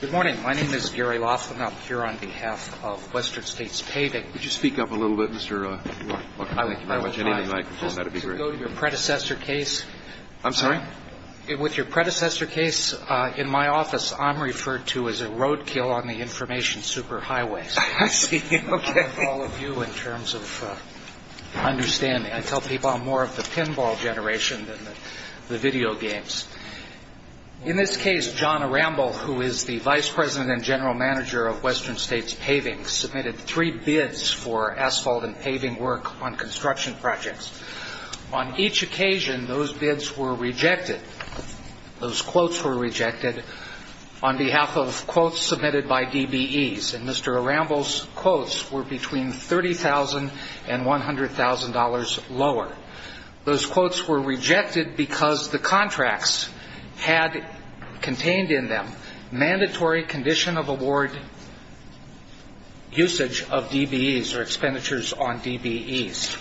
Good morning. My name is Gary Laughlin. I'm here on behalf of Western States Paving. Could you speak up a little bit, Mr. Laughlin? I would love to go to your predecessor case. I'm sorry? With your predecessor case, in my office, I'm referred to as a roadkill on the information superhighways. I see. Okay. All of you in terms of understanding. I tell people I'm more of the pinball generation than the video games. In this case, John Aramble, who is the vice president and general manager of Western States Paving, submitted three bids for asphalt and paving work on construction projects. On each occasion, those bids were rejected. Those quotes were rejected on behalf of quotes submitted by DBEs. And Mr. Aramble's quotes were between $30,000 and $100,000 lower. Those quotes were rejected because the contracts had contained in them mandatory condition of award usage of DBEs or expenditures on DBEs.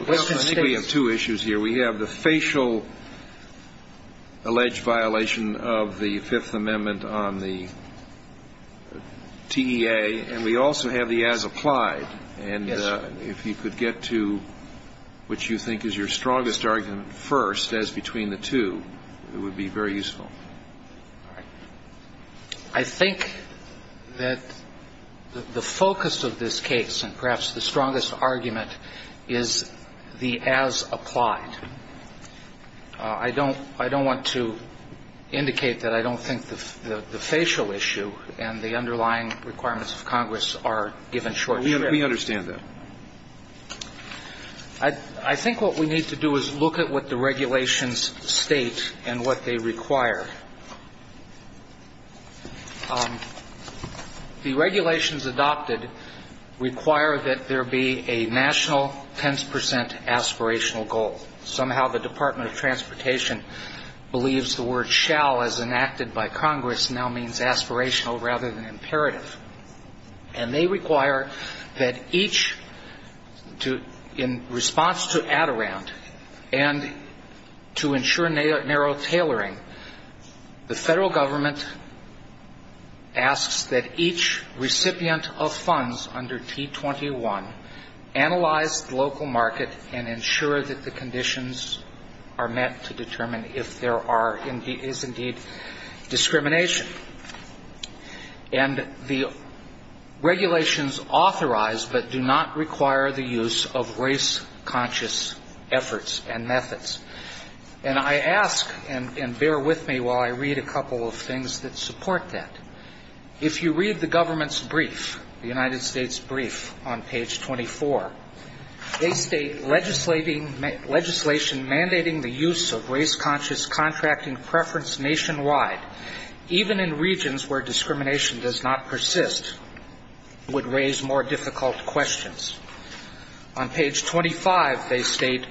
I think we have two issues here. We have the facial alleged violation of the Fifth Amendment on the TEA, and we also have the as applied. And if you could get to what you think is your strongest argument first as between the two, it would be very useful. All right. I think that the focus of this case and perhaps the strongest argument is the as applied. I don't want to indicate that I don't think the facial issue and the underlying requirements of Congress are given short shrift. We understand that. I think what we need to do is look at what the regulations state and what they require. The regulations adopted require that there be a national tens percent aspirational goal. Somehow the Department of Transportation believes the word shall, as enacted by Congress, now means aspirational rather than imperative. And they require that each in response to Adirondack and to ensure narrow tailoring, the federal government asks that each recipient of funds under T-21 analyze local market and ensure that the conditions are met to determine if there is indeed discrimination. And the regulations authorize but do not require the use of race conscious efforts and methods. And I ask, and bear with me while I read a couple of things that support that, if you read the government's brief, the United States brief on page 24, they state legislation mandating the use of race conscious contracting preference nationwide, even in regions where discrimination does not persist, would raise more difficult questions. On page 25 they state,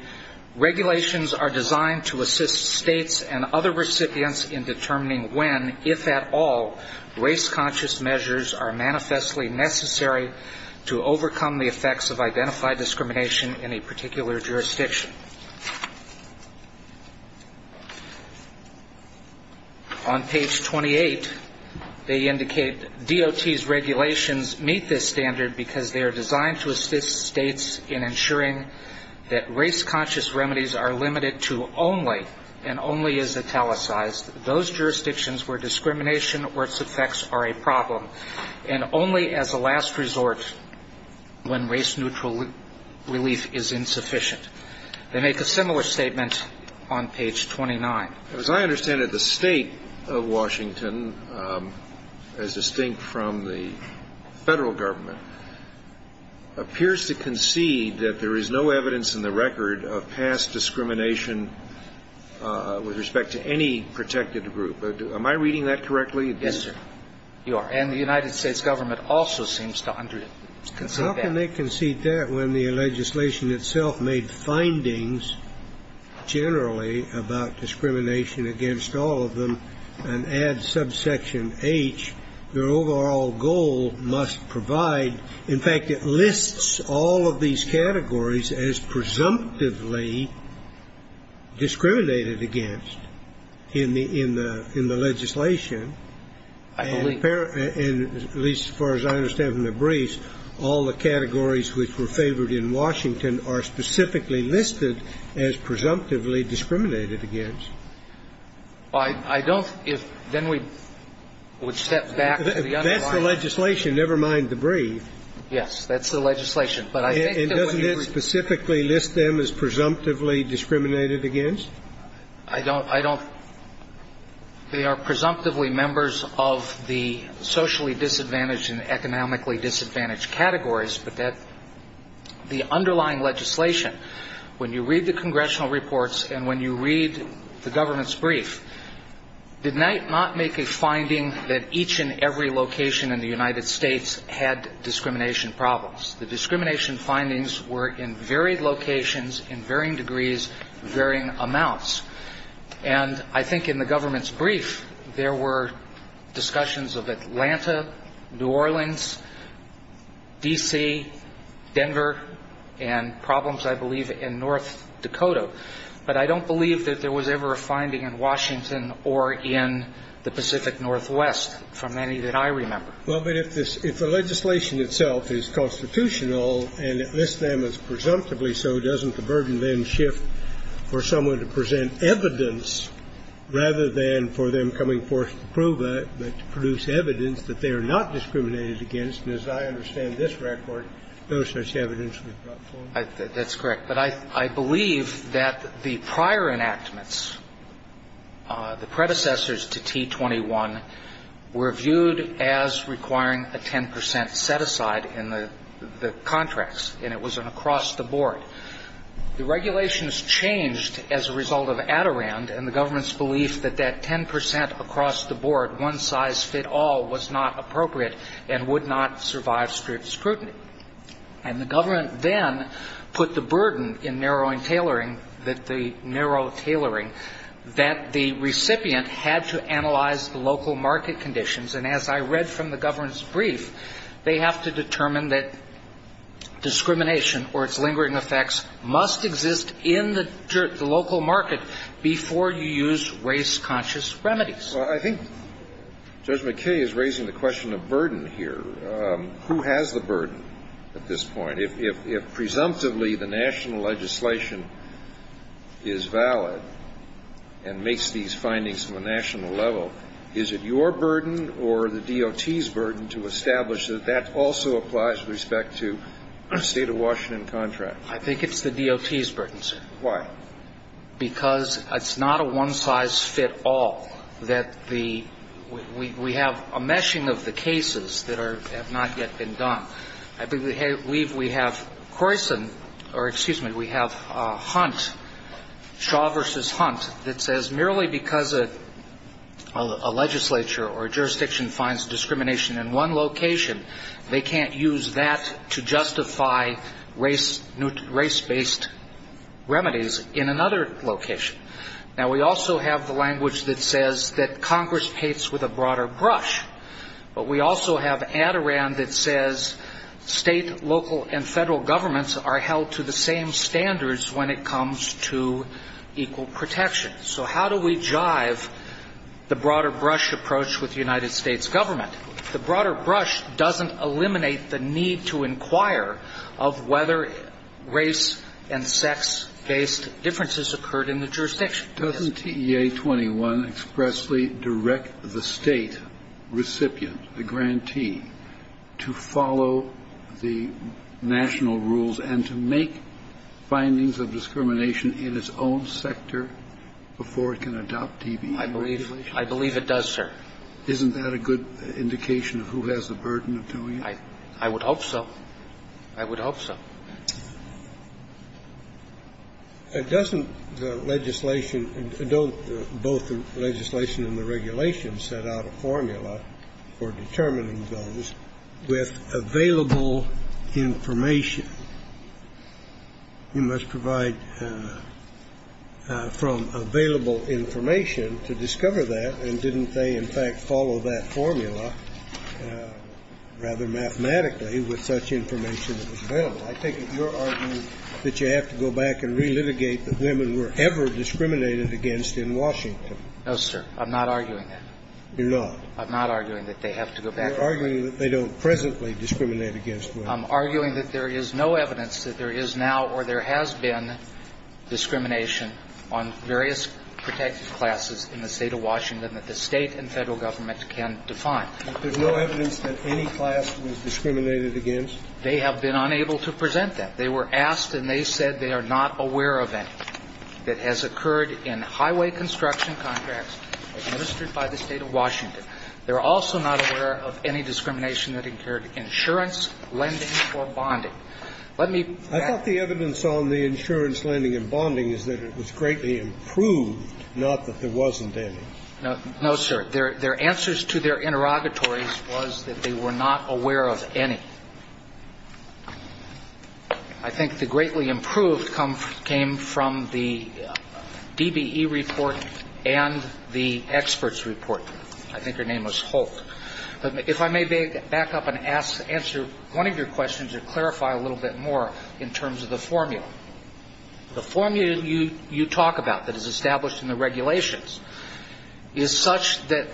regulations are designed to assist states and other recipients in determining when, if at all, race conscious measures are manifestly necessary to overcome the effects of identified discrimination in a particular jurisdiction. On page 28 they indicate, DOT's regulations meet this standard because they are designed to assist states in ensuring that race conscious are a problem and only as a last resort when race neutral relief is insufficient. They make a similar statement on page 29. As I understand it, the state of Washington, as distinct from the federal government, appears to concede that there is no evidence in the record of past discrimination with respect to any protected group. Am I reading that correctly? Yes, sir. You are. And the United States government also seems to concede that. How can they concede that when the legislation itself made findings generally about discrimination against all of them and adds subsection H, their overall goal must provide, in fact, it lists all of these categories as presumptively discriminated against in the legislation. I believe. And at least as far as I understand from the briefs, all the categories which were favored in Washington are specifically listed as presumptively discriminated against. I don't, if, then we would step back to the underlying. That's the legislation, never mind the brief. Yes. That's the legislation. And doesn't it specifically list them as presumptively discriminated against? I don't, I don't. They are presumptively members of the socially disadvantaged and economically disadvantaged categories, but that the underlying legislation, when you read the congressional reports and when you read the government's brief, did not make a finding that each and every location in the United States had discrimination problems. The discrimination findings were in varied locations, in varying degrees, varying amounts. And I think in the government's brief, there were discussions of Atlanta, New Orleans, D.C., Denver, and problems, I believe, in North Dakota. But I don't believe that there was ever a finding in Washington or in the Pacific Northwest from any that I remember. Well, but if the legislation itself is constitutional and it lists them as presumptively so, doesn't the burden then shift for someone to present evidence rather than for them coming forth to prove it, but to produce evidence that they are not discriminated against, and as I understand this record, no such evidence was brought forward? That's correct. But I believe that the prior enactments, the predecessors to T21, were viewed as requiring a 10 percent set-aside in the contracts, and it was an across-the-board. The regulations changed as a result of Adirond, and the government's belief that that 10 percent across-the-board, one-size-fit-all was not appropriate and would not survive strict scrutiny. And the government then put the burden in narrowing tailoring, the narrow tailoring, that the recipient had to analyze the local market conditions. And as I read from the government's brief, they have to determine that discrimination or its lingering effects must exist in the local market before you use race-conscious remedies. Well, I think Judge McKay is raising the question of burden here. Who has the burden at this point? If presumptively the national legislation is valid and makes these findings from a national level, is it your burden or the DOT's burden to establish that that also applies with respect to the State of Washington contracts? I think it's the DOT's burden, sir. Why? Because it's not a one-size-fit-all, that the we have a meshing of the cases that have not yet been done. I believe we have Croyson or, excuse me, we have Hunt, Shaw v. Hunt, that says merely because a legislature or a jurisdiction finds discrimination in one location, they can't use that to justify race-based remedies in another location. Now, we also have the language that says that Congress pates with a broader brush. But we also have Adaran that says State, local, and Federal governments are held to the same standards when it comes to equal protection. So how do we jive the broader brush approach with the United States government? The broader brush doesn't eliminate the need to inquire of whether race- and sex-based differences occurred in the jurisdiction. Doesn't TEA-21 expressly direct the State recipient, the grantee, to follow the national rules and to make findings of discrimination in its own sector before it can adopt DBE regulations? I believe it does, sir. Isn't that a good indication of who has the burden of doing it? I would hope so. I would hope so. Doesn't the legislation don't both the legislation and the regulations set out a formula for determining those with available information? You must provide from available information to discover that. And didn't they, in fact, follow that formula rather mathematically with such information that was available? I take it you're arguing that you have to go back and relitigate that women were ever discriminated against in Washington. No, sir. I'm not arguing that. You're not? I'm not arguing that they have to go back. You're arguing that they don't presently discriminate against women. I'm arguing that there is no evidence that there is now or there has been discrimination on various protected classes in the State of Washington that the State and Federal government can define. But there's no evidence that any class was discriminated against? They have been unable to present that. They were asked and they said they are not aware of any that has occurred in highway construction contracts administered by the State of Washington. They are also not aware of any discrimination that incurred insurance, lending or bonding. Let me back up. I thought the evidence on the insurance, lending and bonding is that it was greatly improved, not that there wasn't any. No, sir. Their answers to their interrogatories was that they were not aware of any. I think the greatly improved came from the DBE report and the experts report. I think her name was Holt. But if I may back up and answer one of your questions or clarify a little bit more in terms of the formula. The formula you talk about that is established in the regulations is such that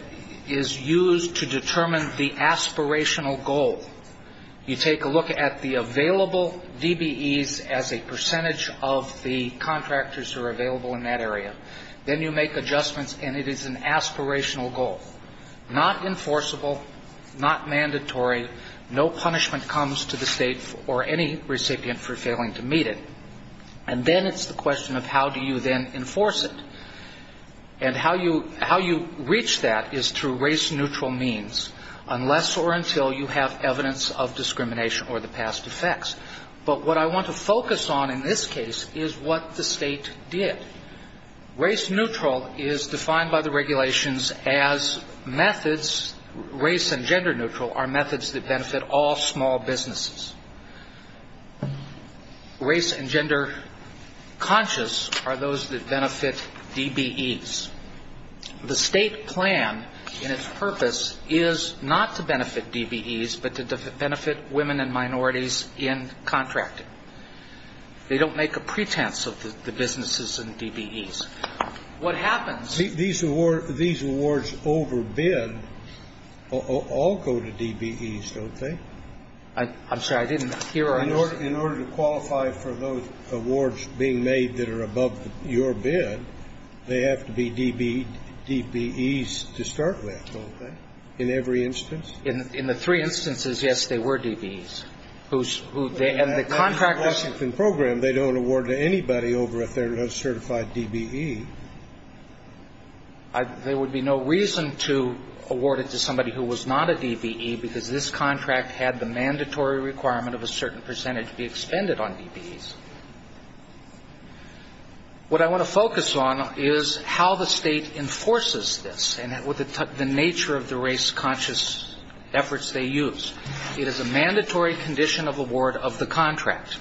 is used to determine the aspirational goal. You take a look at the available DBEs as a percentage of the contractors who are available in that area. Then you make adjustments and it is an aspirational goal. Not enforceable, not mandatory, no punishment comes to the State or any recipient for failing to meet it. And then it is the question of how do you then enforce it. And how you reach that is through race neutral means unless or until you have evidence of discrimination or the past effects. But what I want to focus on in this case is what the State did. Race neutral is defined by the regulations as methods, race and gender neutral, are methods that benefit all small businesses. Race and gender conscious are those that benefit DBEs. The State plan and its purpose is not to benefit DBEs, but to benefit women and minorities in contracting. They don't make a pretense of the businesses and DBEs. What happens ñ These awards overbid all go to DBEs, don't they? I'm sorry. I didn't hear. In order to qualify for those awards being made that are above your bid, they have to be DBEs to start with, don't they? In every instance? In the three instances, yes, they were DBEs. And the contractors ñ In the Washington program, they don't award to anybody over if they're not a certified DBE. There would be no reason to award it to somebody who was not a DBE because this contract had the mandatory requirement of a certain percentage be expended on DBEs. What I want to focus on is how the State enforces this and the nature of the race conscious efforts they use. It is a mandatory condition of award of the contract.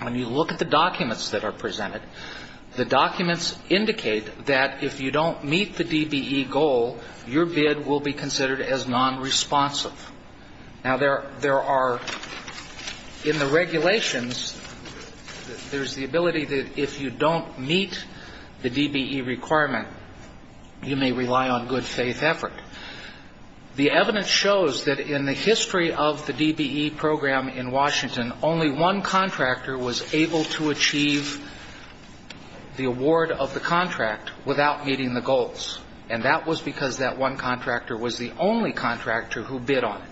When you look at the documents that are presented, the documents indicate that if you don't meet the DBE goal, your bid will be considered as nonresponsive. Now, there are ñ in the regulations, there's the ability that if you don't meet the DBE requirement, you may rely on good faith effort. The evidence shows that in the history of the DBE program in Washington, only one contractor was able to achieve the award of the contract without meeting the goals. And that was because that one contractor was the only contractor who bid on it.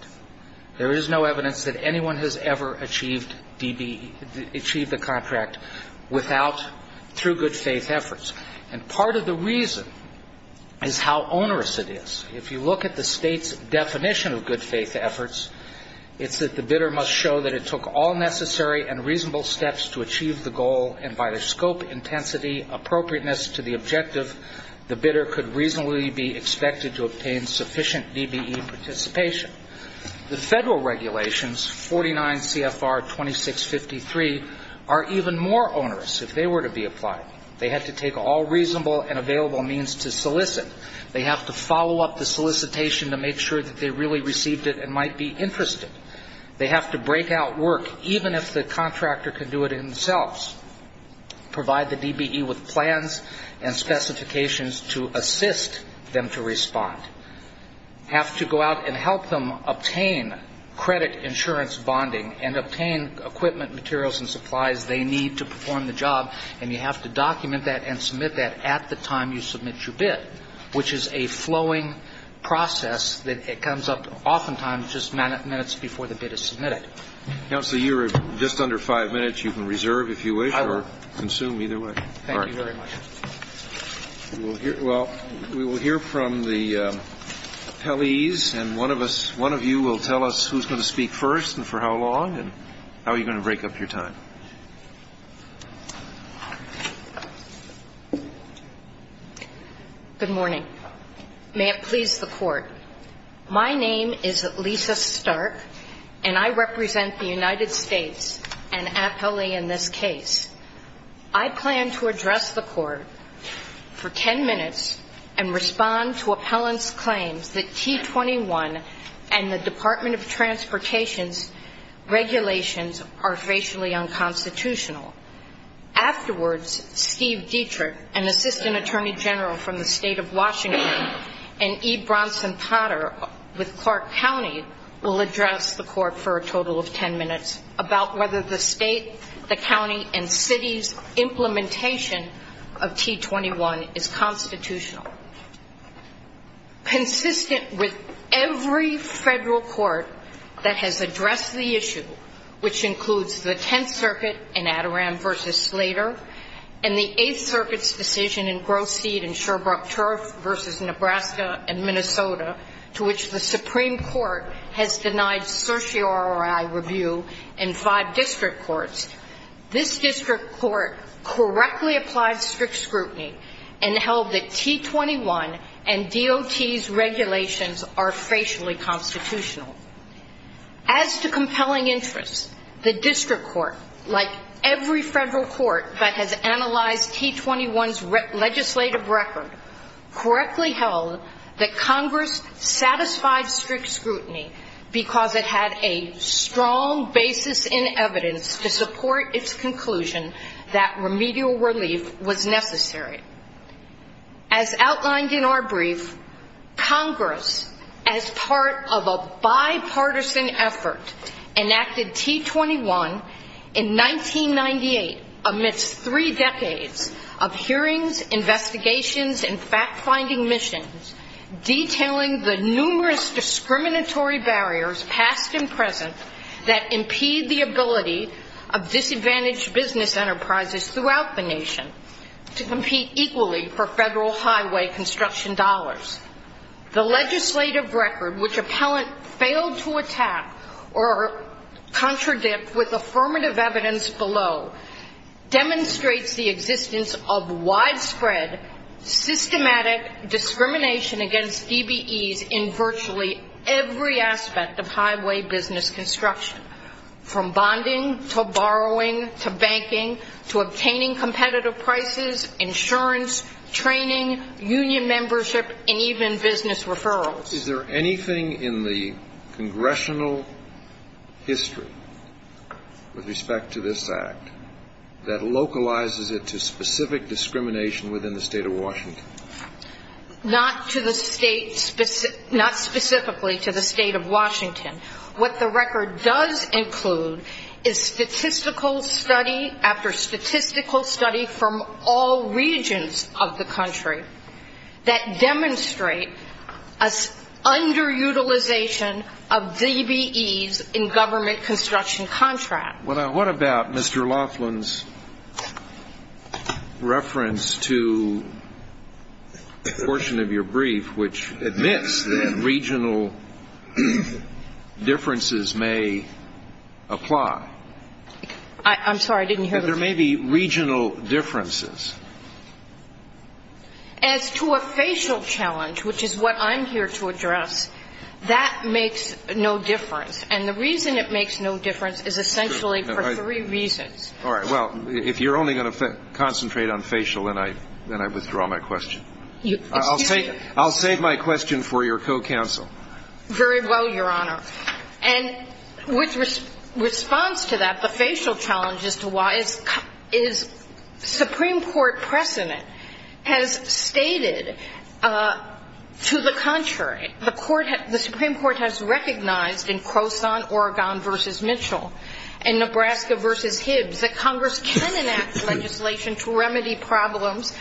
There is no evidence that anyone has ever achieved DBE ñ achieved the contract without ñ through good faith efforts. And part of the reason is how onerous it is. If you look at the State's definition of good faith efforts, it's that the bidder must show that it took all necessary and reasonable steps to achieve the goal, and by the scope, intensity, appropriateness to the objective, the bidder could reasonably be expected to obtain sufficient DBE participation. The Federal regulations, 49 CFR 2653, are even more onerous if they were to be applied. They have to take all reasonable and available means to solicit. They have to follow up the solicitation to make sure that they really received it and might be interested. They have to break out work, even if the contractor can do it themselves, provide the DBE with plans and specifications to assist them to respond, have to go out and help them obtain credit insurance bonding and obtain equipment, materials, and supplies they need to perform the job. And you have to document that and submit that at the time you submit your bid, which is a flowing process that comes up oftentimes just minutes before the bid is submitted. Counsel, you're just under five minutes. You can reserve if you wish or consume either way. Thank you very much. Well, we will hear from the appellees, and one of you will tell us who's going to speak first and for how long and how you're going to break up your time. Good morning. May it please the Court. My name is Lisa Stark, and I represent the United States, an appellee in this case. I plan to address the Court for ten minutes and respond to appellant's claims that T21 and the Department of Transportation's regulations are racially unconstitutional. Afterwards, Steve Dietrich, an assistant attorney general from the state of Washington, and E. Bronson Potter with Clark County will address the Court for a total of ten minutes about whether the state, the county, and city's implementation of T21 is constitutional. Consistent with every federal court that has addressed the issue, which includes the Tenth Circuit in Adirondack v. Slater and the Eighth Circuit's decision in Grosse Sede and Sherbrooke Turf v. Nebraska and Minnesota, to which the Supreme Court has denied certiorari review in five district courts, this district court correctly applied strict scrutiny and held that T21 and DOT's regulations are racially constitutional. As to compelling interest, the district court, like every federal court that has analyzed T21's legislative record, correctly held that Congress satisfied strict scrutiny because it had a strong basis in evidence to support its conclusion that remedial relief was necessary. As outlined in our brief, Congress, as part of a bipartisan effort, enacted T21 in 1998 amidst three decades of hearings, investigations, and fact-finding missions detailing the numerous discriminatory barriers, past and present, that impede the ability of disadvantaged business enterprises throughout the nation to compete equally for federal highway construction dollars. The legislative record, which appellant failed to attack or contradict with affirmative evidence below, demonstrates the existence of widespread systematic discrimination against DBEs in virtually every aspect of highway business construction, from bonding to borrowing to banking to obtaining competitive prices, insurance, training, union membership, and even business referrals. Is there anything in the congressional history with respect to this Act that localizes it to specific discrimination within the state of Washington? Not to the state, not specifically to the state of Washington. What the record does include is statistical study after statistical study from all regions of the country that demonstrate an underutilization of DBEs in government construction contracts. What about Mr. Laughlin's reference to a portion of your brief which admits that regional differences may apply? I'm sorry, I didn't hear the question. There may be regional differences. As to a facial challenge, which is what I'm here to address, that makes no difference. And the reason it makes no difference is essentially for three reasons. All right. Well, if you're only going to concentrate on facial, then I withdraw my question. Excuse me. I'll save my question for your co-counsel. Very well, Your Honor. And with response to that, the facial challenge as to why is Supreme Court precedent has stated, to the contrary, the Supreme Court has recognized in Croson-Oregon v. Mitchell and Nebraska v. Hibbs that Congress can enact legislation to remedy problems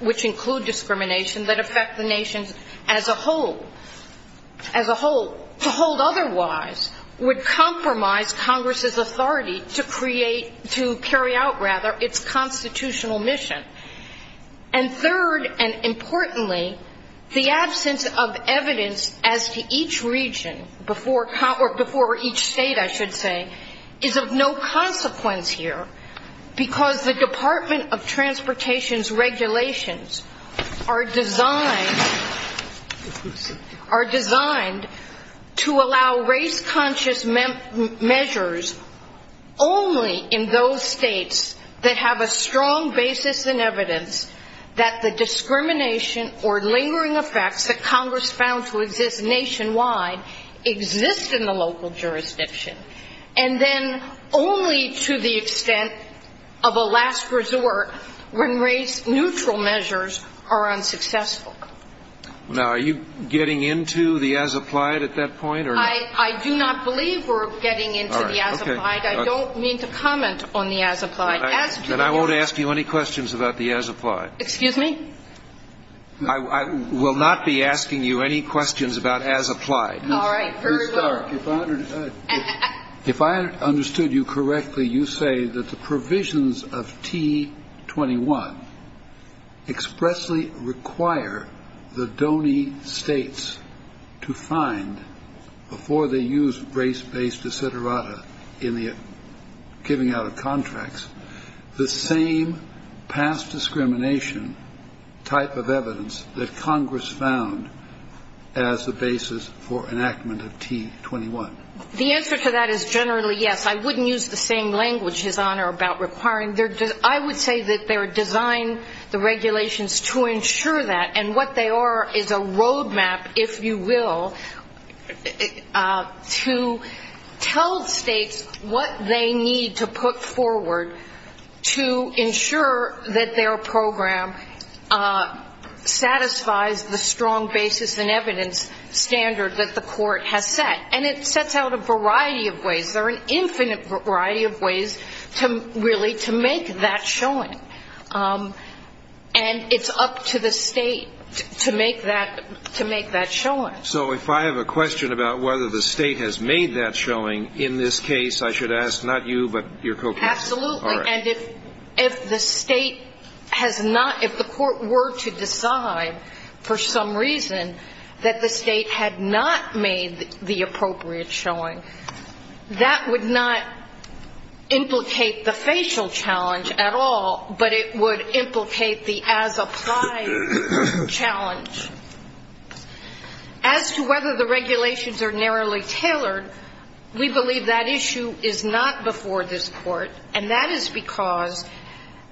which include discrimination that affect the nation as a whole. As a whole, to hold otherwise would compromise Congress's authority to create, to carry out rather, its constitutional mission. And third and importantly, the absence of evidence as to each region before each state, I should say, is of no consequence here because the Department of Transportation's regulations are designed to allow race-conscious measures only in those states that have a strong basis in evidence that the discrimination or lingering effects that Congress found to exist nationwide exist in the local jurisdiction, and then only to the extent of a last resort when race-neutral measures are unsuccessful. Now, are you getting into the as-applied at that point? I do not believe we're getting into the as-applied. I don't mean to comment on the as-applied. Then I won't ask you any questions about the as-applied. Excuse me? I will not be asking you any questions about as-applied. All right. Please start. If I understood you correctly, you say that the provisions of T-21 expressly require the dony states to find, before they use race-based esoterata in the giving out of contracts, the same past discrimination type of evidence that Congress found as the basis for enactment of T-21. The answer to that is generally yes. I wouldn't use the same language, His Honor, about requiring. I would say that they're designed, the regulations, to ensure that, and what they are is a roadmap, if you will, to tell states what they need to put forward to ensure that their program satisfies the strong basis and evidence standard that the court has set. And it sets out a variety of ways. There are an infinite variety of ways, really, to make that showing. And it's up to the state to make that showing. So if I have a question about whether the state has made that showing, in this case, I should ask not you, but your co-counsel. Absolutely. All right. And if the state has not, if the court were to decide for some reason that the state had not made the appropriate showing, that would not implicate the facial challenge at all, but it would implicate the as-applied challenge. As to whether the regulations are narrowly tailored, we believe that issue is not before this Court, and that is because,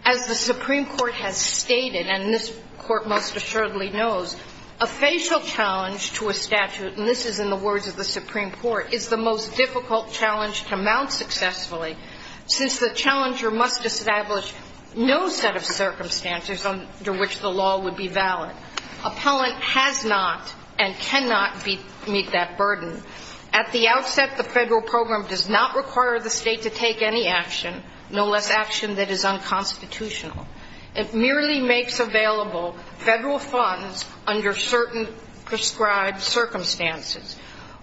as the Supreme Court has stated, and this Court most assuredly knows, a facial challenge to a statute, and this is in the words of the Supreme Court, is the most difficult challenge to mount successfully, since the challenger must establish no set of circumstances under which the law would be valid. Appellant has not and cannot meet that burden. At the outset, the federal program does not require the state to take any action, no less action that is unconstitutional. It merely makes available federal funds under certain prescribed circumstances.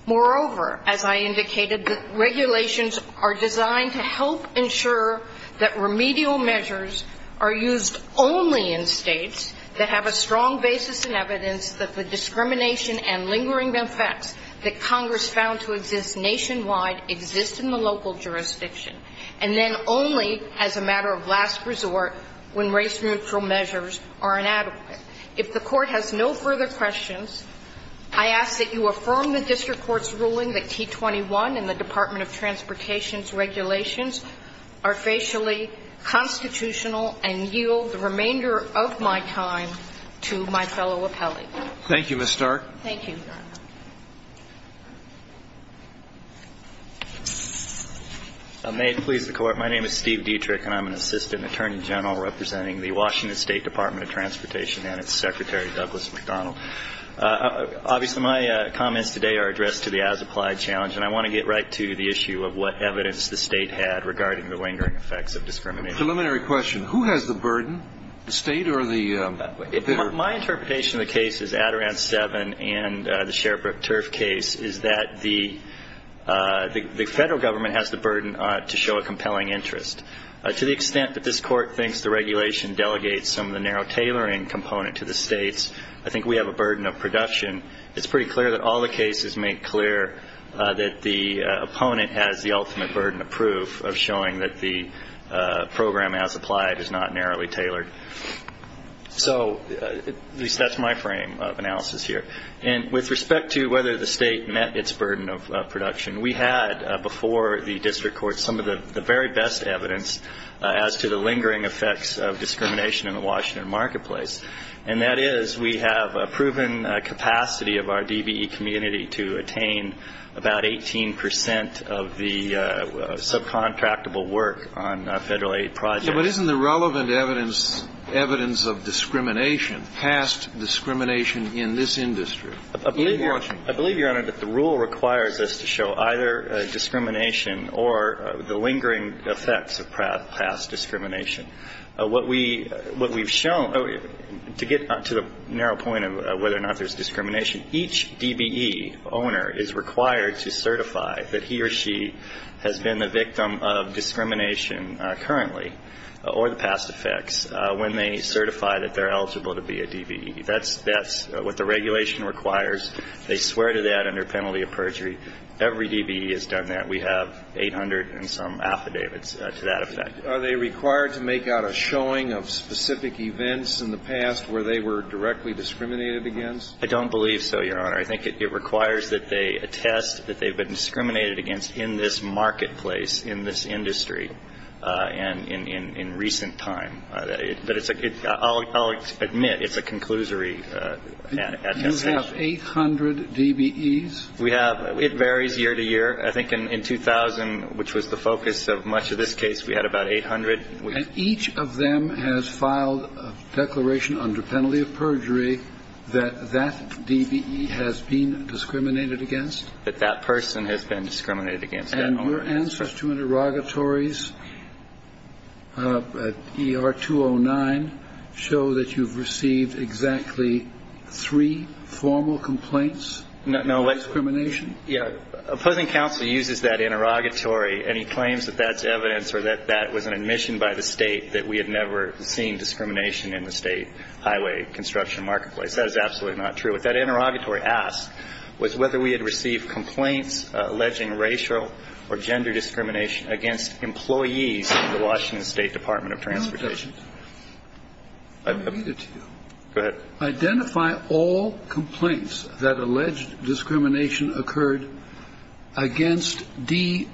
Moreover, as I indicated, the regulations are designed to help ensure that remedial measures are used only in states that have a strong basis in evidence that the discrimination and lingering effects that Congress found to exist nationwide exist in the local jurisdiction, and then only as a matter of last resort when race-neutral measures are inadequate. If the Court has no further questions, I ask that you affirm the district court's ruling that T21 and the Department of Transportation's regulations are facially constitutional and yield the remainder of my time to my fellow appellee. Thank you, Ms. Stark. Thank you, Your Honor. May it please the Court. My name is Steve Dietrich, and I'm an assistant attorney general representing the Washington State Department of Transportation and its secretary, Douglas McDonald. Obviously, my comments today are addressed to the as-applied challenge, and I want to get right to the issue of what evidence the state had regarding the lingering effects of discrimination. Preliminary question. Who has the burden, the state or the other? My interpretation of the cases, Adirondack 7 and the Sherbrooke turf case, is that the federal government has the burden to show a compelling interest. To the extent that this Court thinks the regulation delegates some of the narrow tailoring component to the states, I think we have a burden of production. It's pretty clear that all the cases make clear that the opponent has the ultimate burden of proof of showing that the program as applied is not narrowly tailored. So at least that's my frame of analysis here. And with respect to whether the state met its burden of production, we had before the district court some of the very best evidence as to the lingering effects of discrimination in the Washington marketplace, and that is we have a proven capacity of our DBE community to attain about 18 percent of the subcontractable work on federal aid projects. But isn't the relevant evidence evidence of discrimination, past discrimination, in this industry in Washington? I believe, Your Honor, that the rule requires us to show either discrimination or the lingering effects of past discrimination. What we've shown, to get to the narrow point of whether or not there's discrimination, each DBE owner is required to certify that he or she has been the victim of discrimination currently or the past effects when they certify that they're eligible to be a DBE. That's what the regulation requires. They swear to that under penalty of perjury. Every DBE has done that. We have 800 and some affidavits to that effect. Are they required to make out a showing of specific events in the past where they were directly discriminated against? I don't believe so, Your Honor. I think it requires that they attest that they've been discriminated against in this marketplace, in this industry, and in recent time. But it's a good – I'll admit it's a conclusory attestation. You have 800 DBEs? We have – it varies year to year. I think in 2000, which was the focus of much of this case, we had about 800. And each of them has filed a declaration under penalty of perjury that that DBE has been discriminated against? That that person has been discriminated against. And your answers to interrogatories, ER 209, show that you've received exactly three formal complaints of discrimination? Yeah. The opposing counsel uses that interrogatory, and he claims that that's evidence or that that was an admission by the state that we had never seen discrimination in the state highway construction marketplace. That is absolutely not true. What that interrogatory asked was whether we had received complaints alleging racial or gender discrimination against employees of the Washington State Department of Transportation. I'm going to read it to you. Go ahead. Identify all complaints that alleged discrimination occurred against DBEs,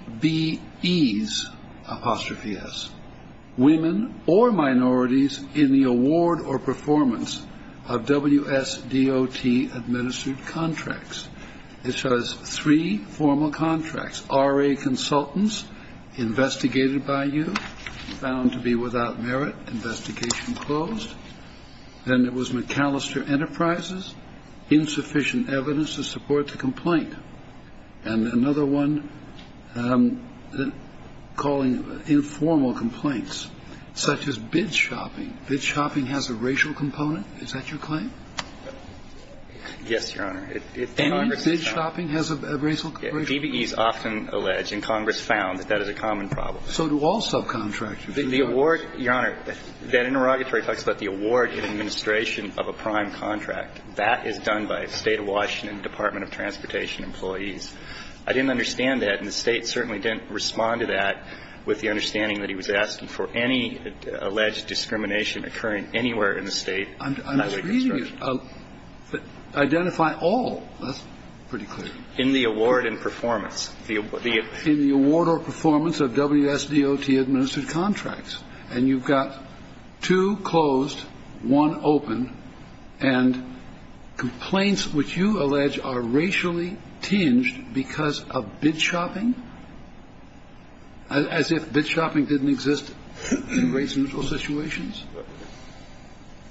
apostrophe S, women or minorities in the award or performance of WSDOT-administered contracts. It says three formal contracts. RA consultants investigated by you, found to be without merit, investigation closed. Then it was McAllister Enterprises, insufficient evidence to support the complaint. And another one calling informal complaints, such as bid shopping. Bid shopping has a racial component? Is that your claim? Yes, Your Honor. Any bid shopping has a racial component. DBEs often allege, and Congress found that that is a common problem. So do all subcontractors. The award, Your Honor, that interrogatory talks about the award in administration of a prime contract. That is done by a State of Washington Department of Transportation employees. I didn't understand that, and the State certainly didn't respond to that with the understanding that he was asking for any alleged discrimination occurring anywhere in the state highway construction. I'm just reading it. Identify all. That's pretty clear. In the award and performance. In the award or performance of WSDOT-administered contracts. And you've got two closed, one open. And complaints which you allege are racially tinged because of bid shopping? As if bid shopping didn't exist in race-neutral situations?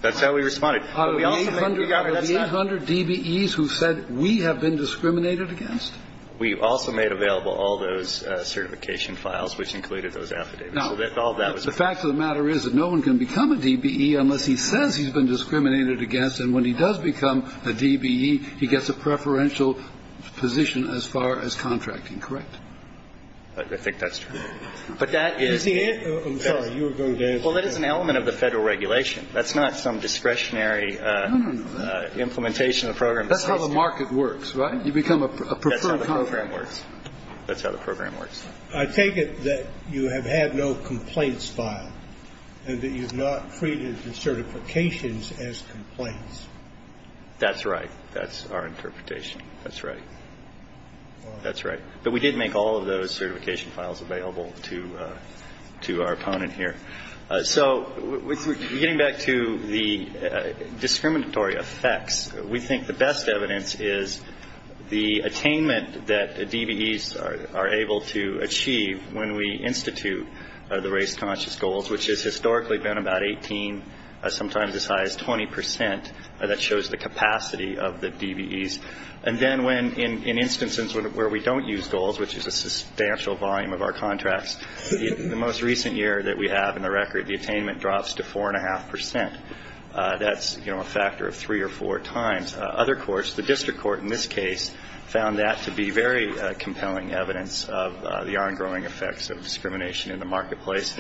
That's how we responded. Are there 800 DBEs who said we have been discriminated against? We also made available all those certification files which included those affidavits. Now, the fact of the matter is that no one can become a DBE unless he says he's been discriminated against, and when he does become a DBE, he gets a preferential position as far as contracting. Correct? I think that's true. But that is the case. I'm sorry. Well, that is an element of the Federal regulation. That's not some discretionary implementation of the program. That's how the market works, right? You become a preferred contractor. That's how the program works. That's how the program works. I take it that you have had no complaints filed and that you've not treated the certifications as complaints. That's right. That's our interpretation. That's right. That's right. But we did make all of those certification files available to our opponent here. So getting back to the discriminatory effects, we think the best evidence is the attainment that DBEs are able to achieve when we institute the race conscious goals, which has historically been about 18, sometimes as high as 20 percent. That shows the capacity of the DBEs. And then in instances where we don't use goals, which is a substantial volume of our contracts, the most recent year that we have in the record, the attainment drops to 4.5 percent. That's a factor of three or four times. Other courts, the district court in this case, found that to be very compelling evidence of the ongoing effects of discrimination in the marketplace.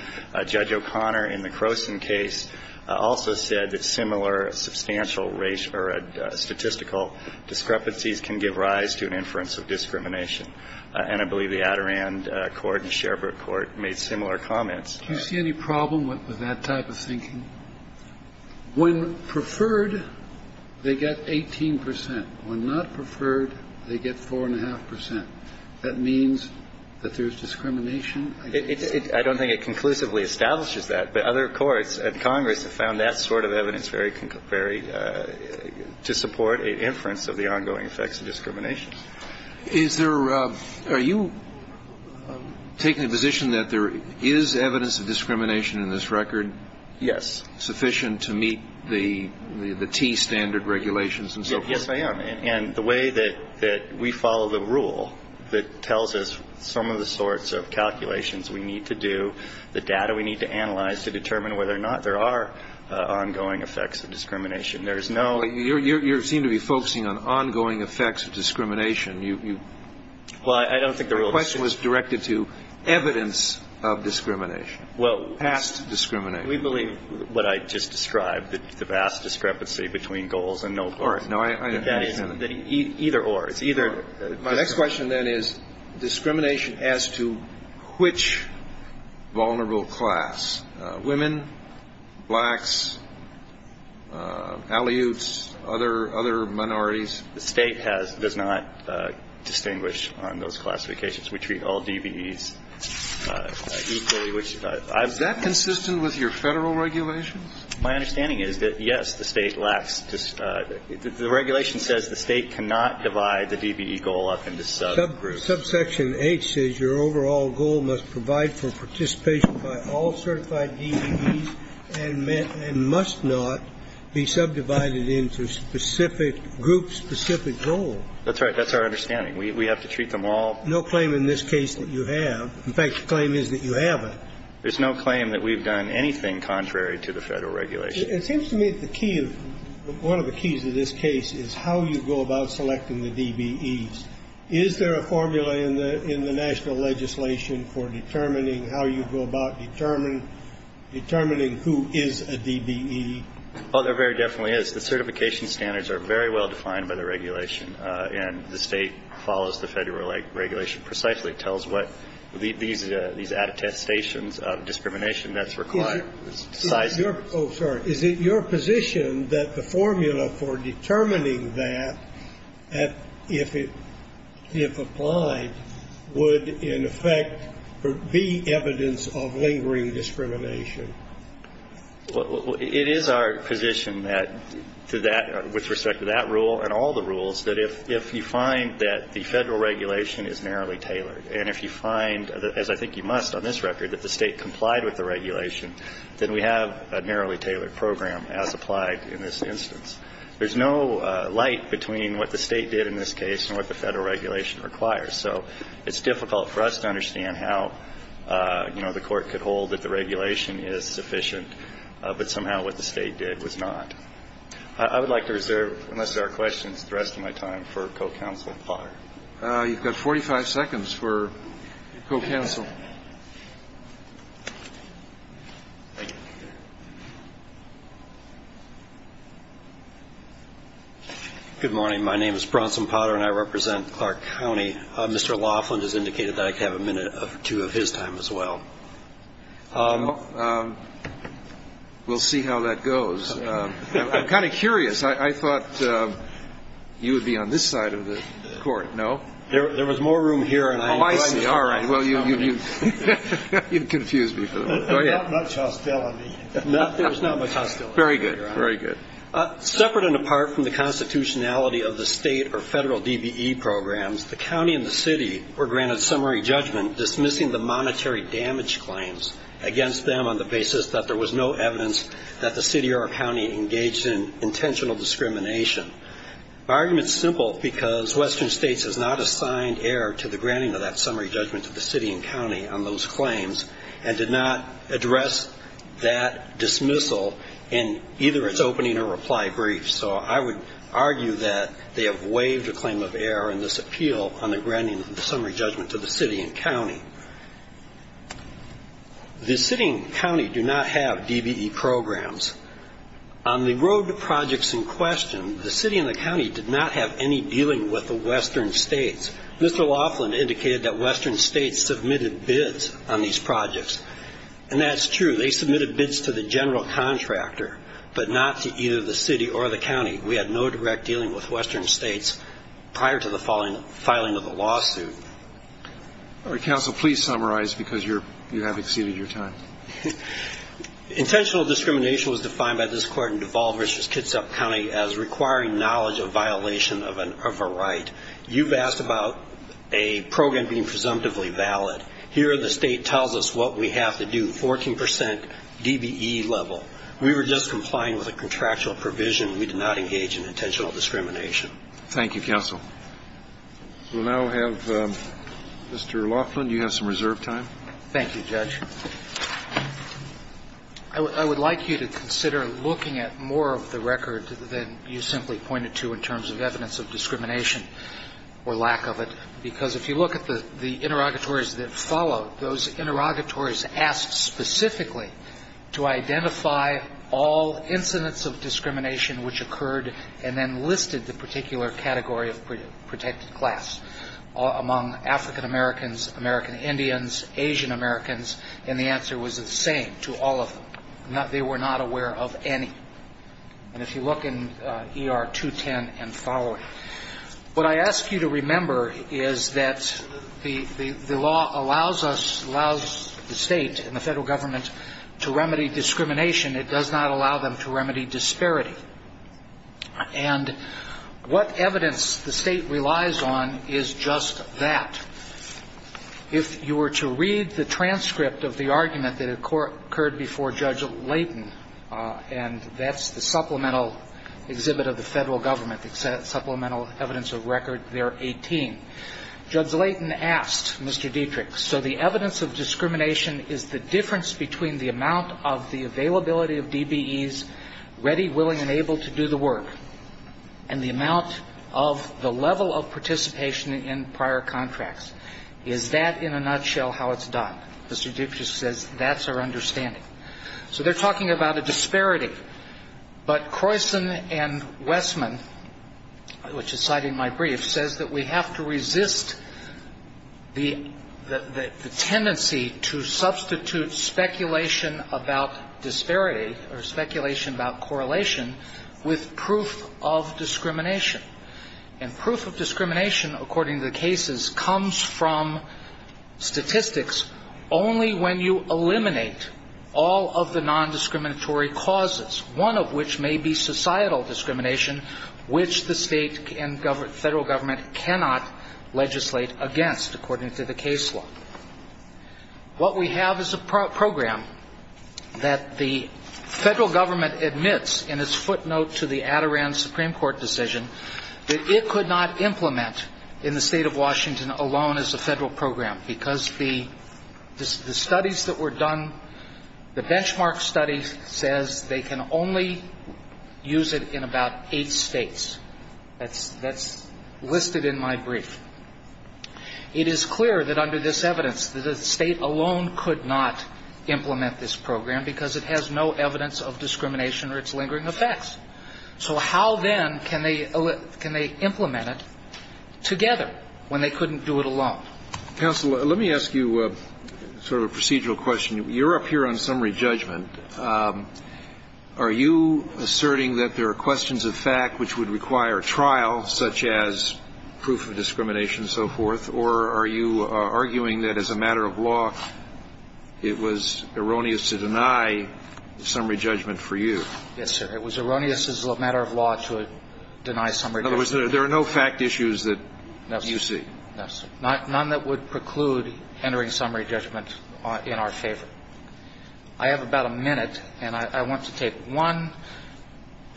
Judge O'Connor in the Croson case also said that similar substantial racial or statistical discrepancies can give rise to an inference of discrimination. And I believe the Adirondack Court and Sherbrooke Court made similar comments. Do you see any problem with that type of thinking? When preferred, they get 18 percent. When not preferred, they get 4.5 percent. That means that there's discrimination. I don't think it conclusively establishes that. But other courts and Congress have found that sort of evidence very to support an inference of the ongoing effects of discrimination. Are you taking the position that there is evidence of discrimination in this record? Yes. Sufficient to meet the T standard regulations and so forth? Yes, I am. And the way that we follow the rule that tells us some of the sorts of calculations we need to do, the data we need to analyze to determine whether or not there are ongoing effects of discrimination, there is no ---- You seem to be focusing on ongoing effects of discrimination. Well, I don't think the rule is ---- The question was directed to evidence of discrimination, past discrimination. We believe what I just described, the vast discrepancy between goals and no goals. No, I understand. Either or. It's either ---- My next question, then, is discrimination as to which vulnerable class, women, blacks, Aleuts, other minorities? The State does not distinguish on those classifications. We treat all DBEs equally. Is that consistent with your Federal regulations? My understanding is that, yes, the State lacks ---- the regulation says the State cannot divide the DBE goal up into subgroups. Subsection H says your overall goal must provide for participation by all certified DBEs and must not be subdivided into specific groups, specific goals. That's right. That's our understanding. We have to treat them all ---- No claim in this case that you have. In fact, the claim is that you haven't. There's no claim that we've done anything contrary to the Federal regulation. It seems to me the key of ---- one of the keys of this case is how you go about selecting the DBEs. Is there a formula in the national legislation for determining how you go about determining who is a DBE? Oh, there very definitely is. The certification standards are very well defined by the regulation, and the State follows the Federal regulation precisely. It tells what these attestations of discrimination that's required. Oh, sorry. Is it your position that the formula for determining that, if it ---- if applied, would in effect be evidence of lingering discrimination? It is our position that to that ---- with respect to that rule and all the rules, that if you find that the Federal regulation is narrowly tailored, and if you find, as I think you must on this record, that the State complied with the regulation, then we have a narrowly tailored program as applied in this instance. There's no light between what the State did in this case and what the Federal regulation requires. So it's difficult for us to understand how, you know, the Court could hold that the regulation is sufficient, but somehow what the State did was not. I would like to reserve, unless there are questions, the rest of my time for Co-Counsel Potter. You've got 45 seconds for Co-Counsel. Good morning. My name is Bronson Potter, and I represent Clark County. Mr. Laughlin has indicated that I could have a minute or two of his time as well. We'll see how that goes. I'm kind of curious. I thought you would be on this side of the Court. No? There was more room here. Oh, I see. All right. Well, you've confused me. Not much hostility. There was not much hostility. Very good. Very good. Separate and apart from the constitutionality of the State or Federal DBE programs, the county and the city were granted summary judgment dismissing the monetary damage claims against them on the basis that there was no evidence that the city or county engaged in intentional discrimination. My argument is simple because Western States has not assigned error to the granting of that summary judgment to the city and county on those claims and did not address that dismissal in either its opening or reply briefs. So I would argue that they have waived a claim of error in this appeal on the granting of the summary judgment to the city and county. The city and county do not have DBE programs. On the road to projects in question, the city and the county did not have any dealing with the Western States. Mr. Laughlin indicated that Western States submitted bids on these projects, and that's true. They submitted bids to the general contractor but not to either the city or the county. We had no direct dealing with Western States prior to the filing of the lawsuit. All right, counsel, please summarize because you have exceeded your time. Intentional discrimination was defined by this court in Duval v. Kitsap County as requiring knowledge of violation of a right. You've asked about a program being presumptively valid. Here the State tells us what we have to do, 14% DBE level. We were just complying with a contractual provision. We did not engage in intentional discrimination. Thank you, counsel. We'll now have Mr. Laughlin. You have some reserve time. Thank you, Judge. I would like you to consider looking at more of the record than you simply pointed to in terms of evidence of discrimination or lack of it, because if you look at the interrogatories that followed, those interrogatories asked specifically to identify all incidents of discrimination which occurred and then listed the particular category of protected class among African Americans, American Indians, Asian Americans, and the answer was the same to all of them. They were not aware of any. And if you look in ER 210 and following, what I ask you to remember is that the law allows us, allows the State and the Federal Government to remedy discrimination. It does not allow them to remedy disparity. And what evidence the State relies on is just that. If you were to read the transcript of the argument that occurred before Judge Layton, and that's the supplemental exhibit of the Federal Government, the supplemental evidence of record there, 18, Judge Layton asked Mr. Dietrich, so the evidence of discrimination is the difference between the amount of the availability of DBEs ready, willing, and able to do the work and the amount of the level of participation in prior contracts. Is that, in a nutshell, how it's done? Mr. Dietrich says that's our understanding. So they're talking about a disparity. But Croyson and Westman, which is cited in my brief, says that we have to resist the tendency to substitute speculation about disparity or speculation about correlation with proof of discrimination. And proof of discrimination, according to the cases, comes from statistics only when you eliminate all of the nondiscriminatory causes, one of which may be societal discrimination, which the State and Federal Government cannot legislate against, according to the case law. What we have is a program that the Federal Government admits in its footnote to the Adirondack Supreme Court decision that it could not implement in the State of Washington alone as a Federal program because the studies that were done, the benchmark study says they can only use it in about eight states. That's listed in my brief. It is clear that under this evidence, the State alone could not implement this program because it has no evidence of discrimination or its lingering effects. So how then can they implement it together when they couldn't do it alone? Counsel, let me ask you sort of a procedural question. You're up here on summary judgment. Are you asserting that there are questions of fact which would require trial, such as proof of discrimination and so forth, or are you arguing that as a matter of law it was erroneous to deny summary judgment for you? Yes, sir. It was erroneous as a matter of law to deny summary judgment. In other words, there are no fact issues that you see. No, sir. None that would preclude entering summary judgment in our favor. I have about a minute, and I want to take one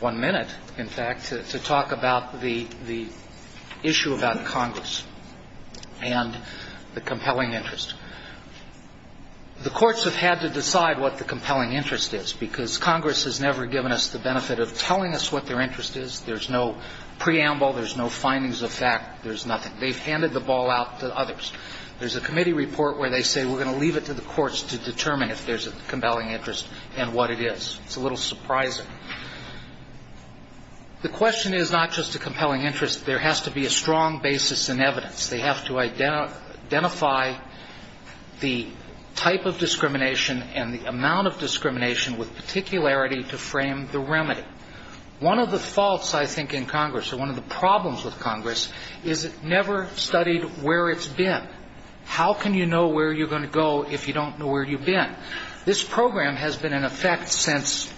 minute, in fact, to talk about the issue about Congress and the compelling interest. The courts have had to decide what the compelling interest is, because Congress has never given us the benefit of telling us what their interest is. There's no preamble. There's no findings of fact. There's nothing. They've handed the ball out to others. There's a committee report where they say we're going to leave it to the courts to determine if there's a compelling interest and what it is. It's a little surprising. The question is not just a compelling interest. There has to be a strong basis in evidence. They have to identify the type of discrimination and the amount of discrimination with particularity to frame the remedy. One of the faults, I think, in Congress, or one of the problems with Congress, is it never studied where it's been. How can you know where you're going to go if you don't know where you've been? This program has been in effect since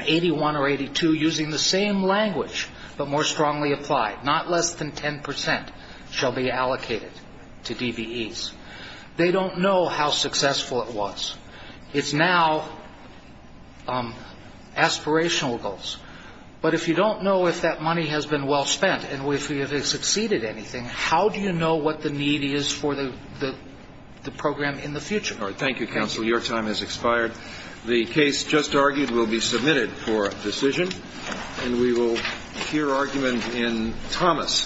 81 or 82 using the same language, but more strongly applied. Not less than 10 percent shall be allocated to DBEs. They don't know how successful it was. It's now aspirational goals. But if you don't know if that money has been well spent and if it has exceeded anything, how do you know what the need is for the program in the future? Thank you, counsel. Your time has expired. The case just argued will be submitted for a decision, and we will hear argument in Thomas.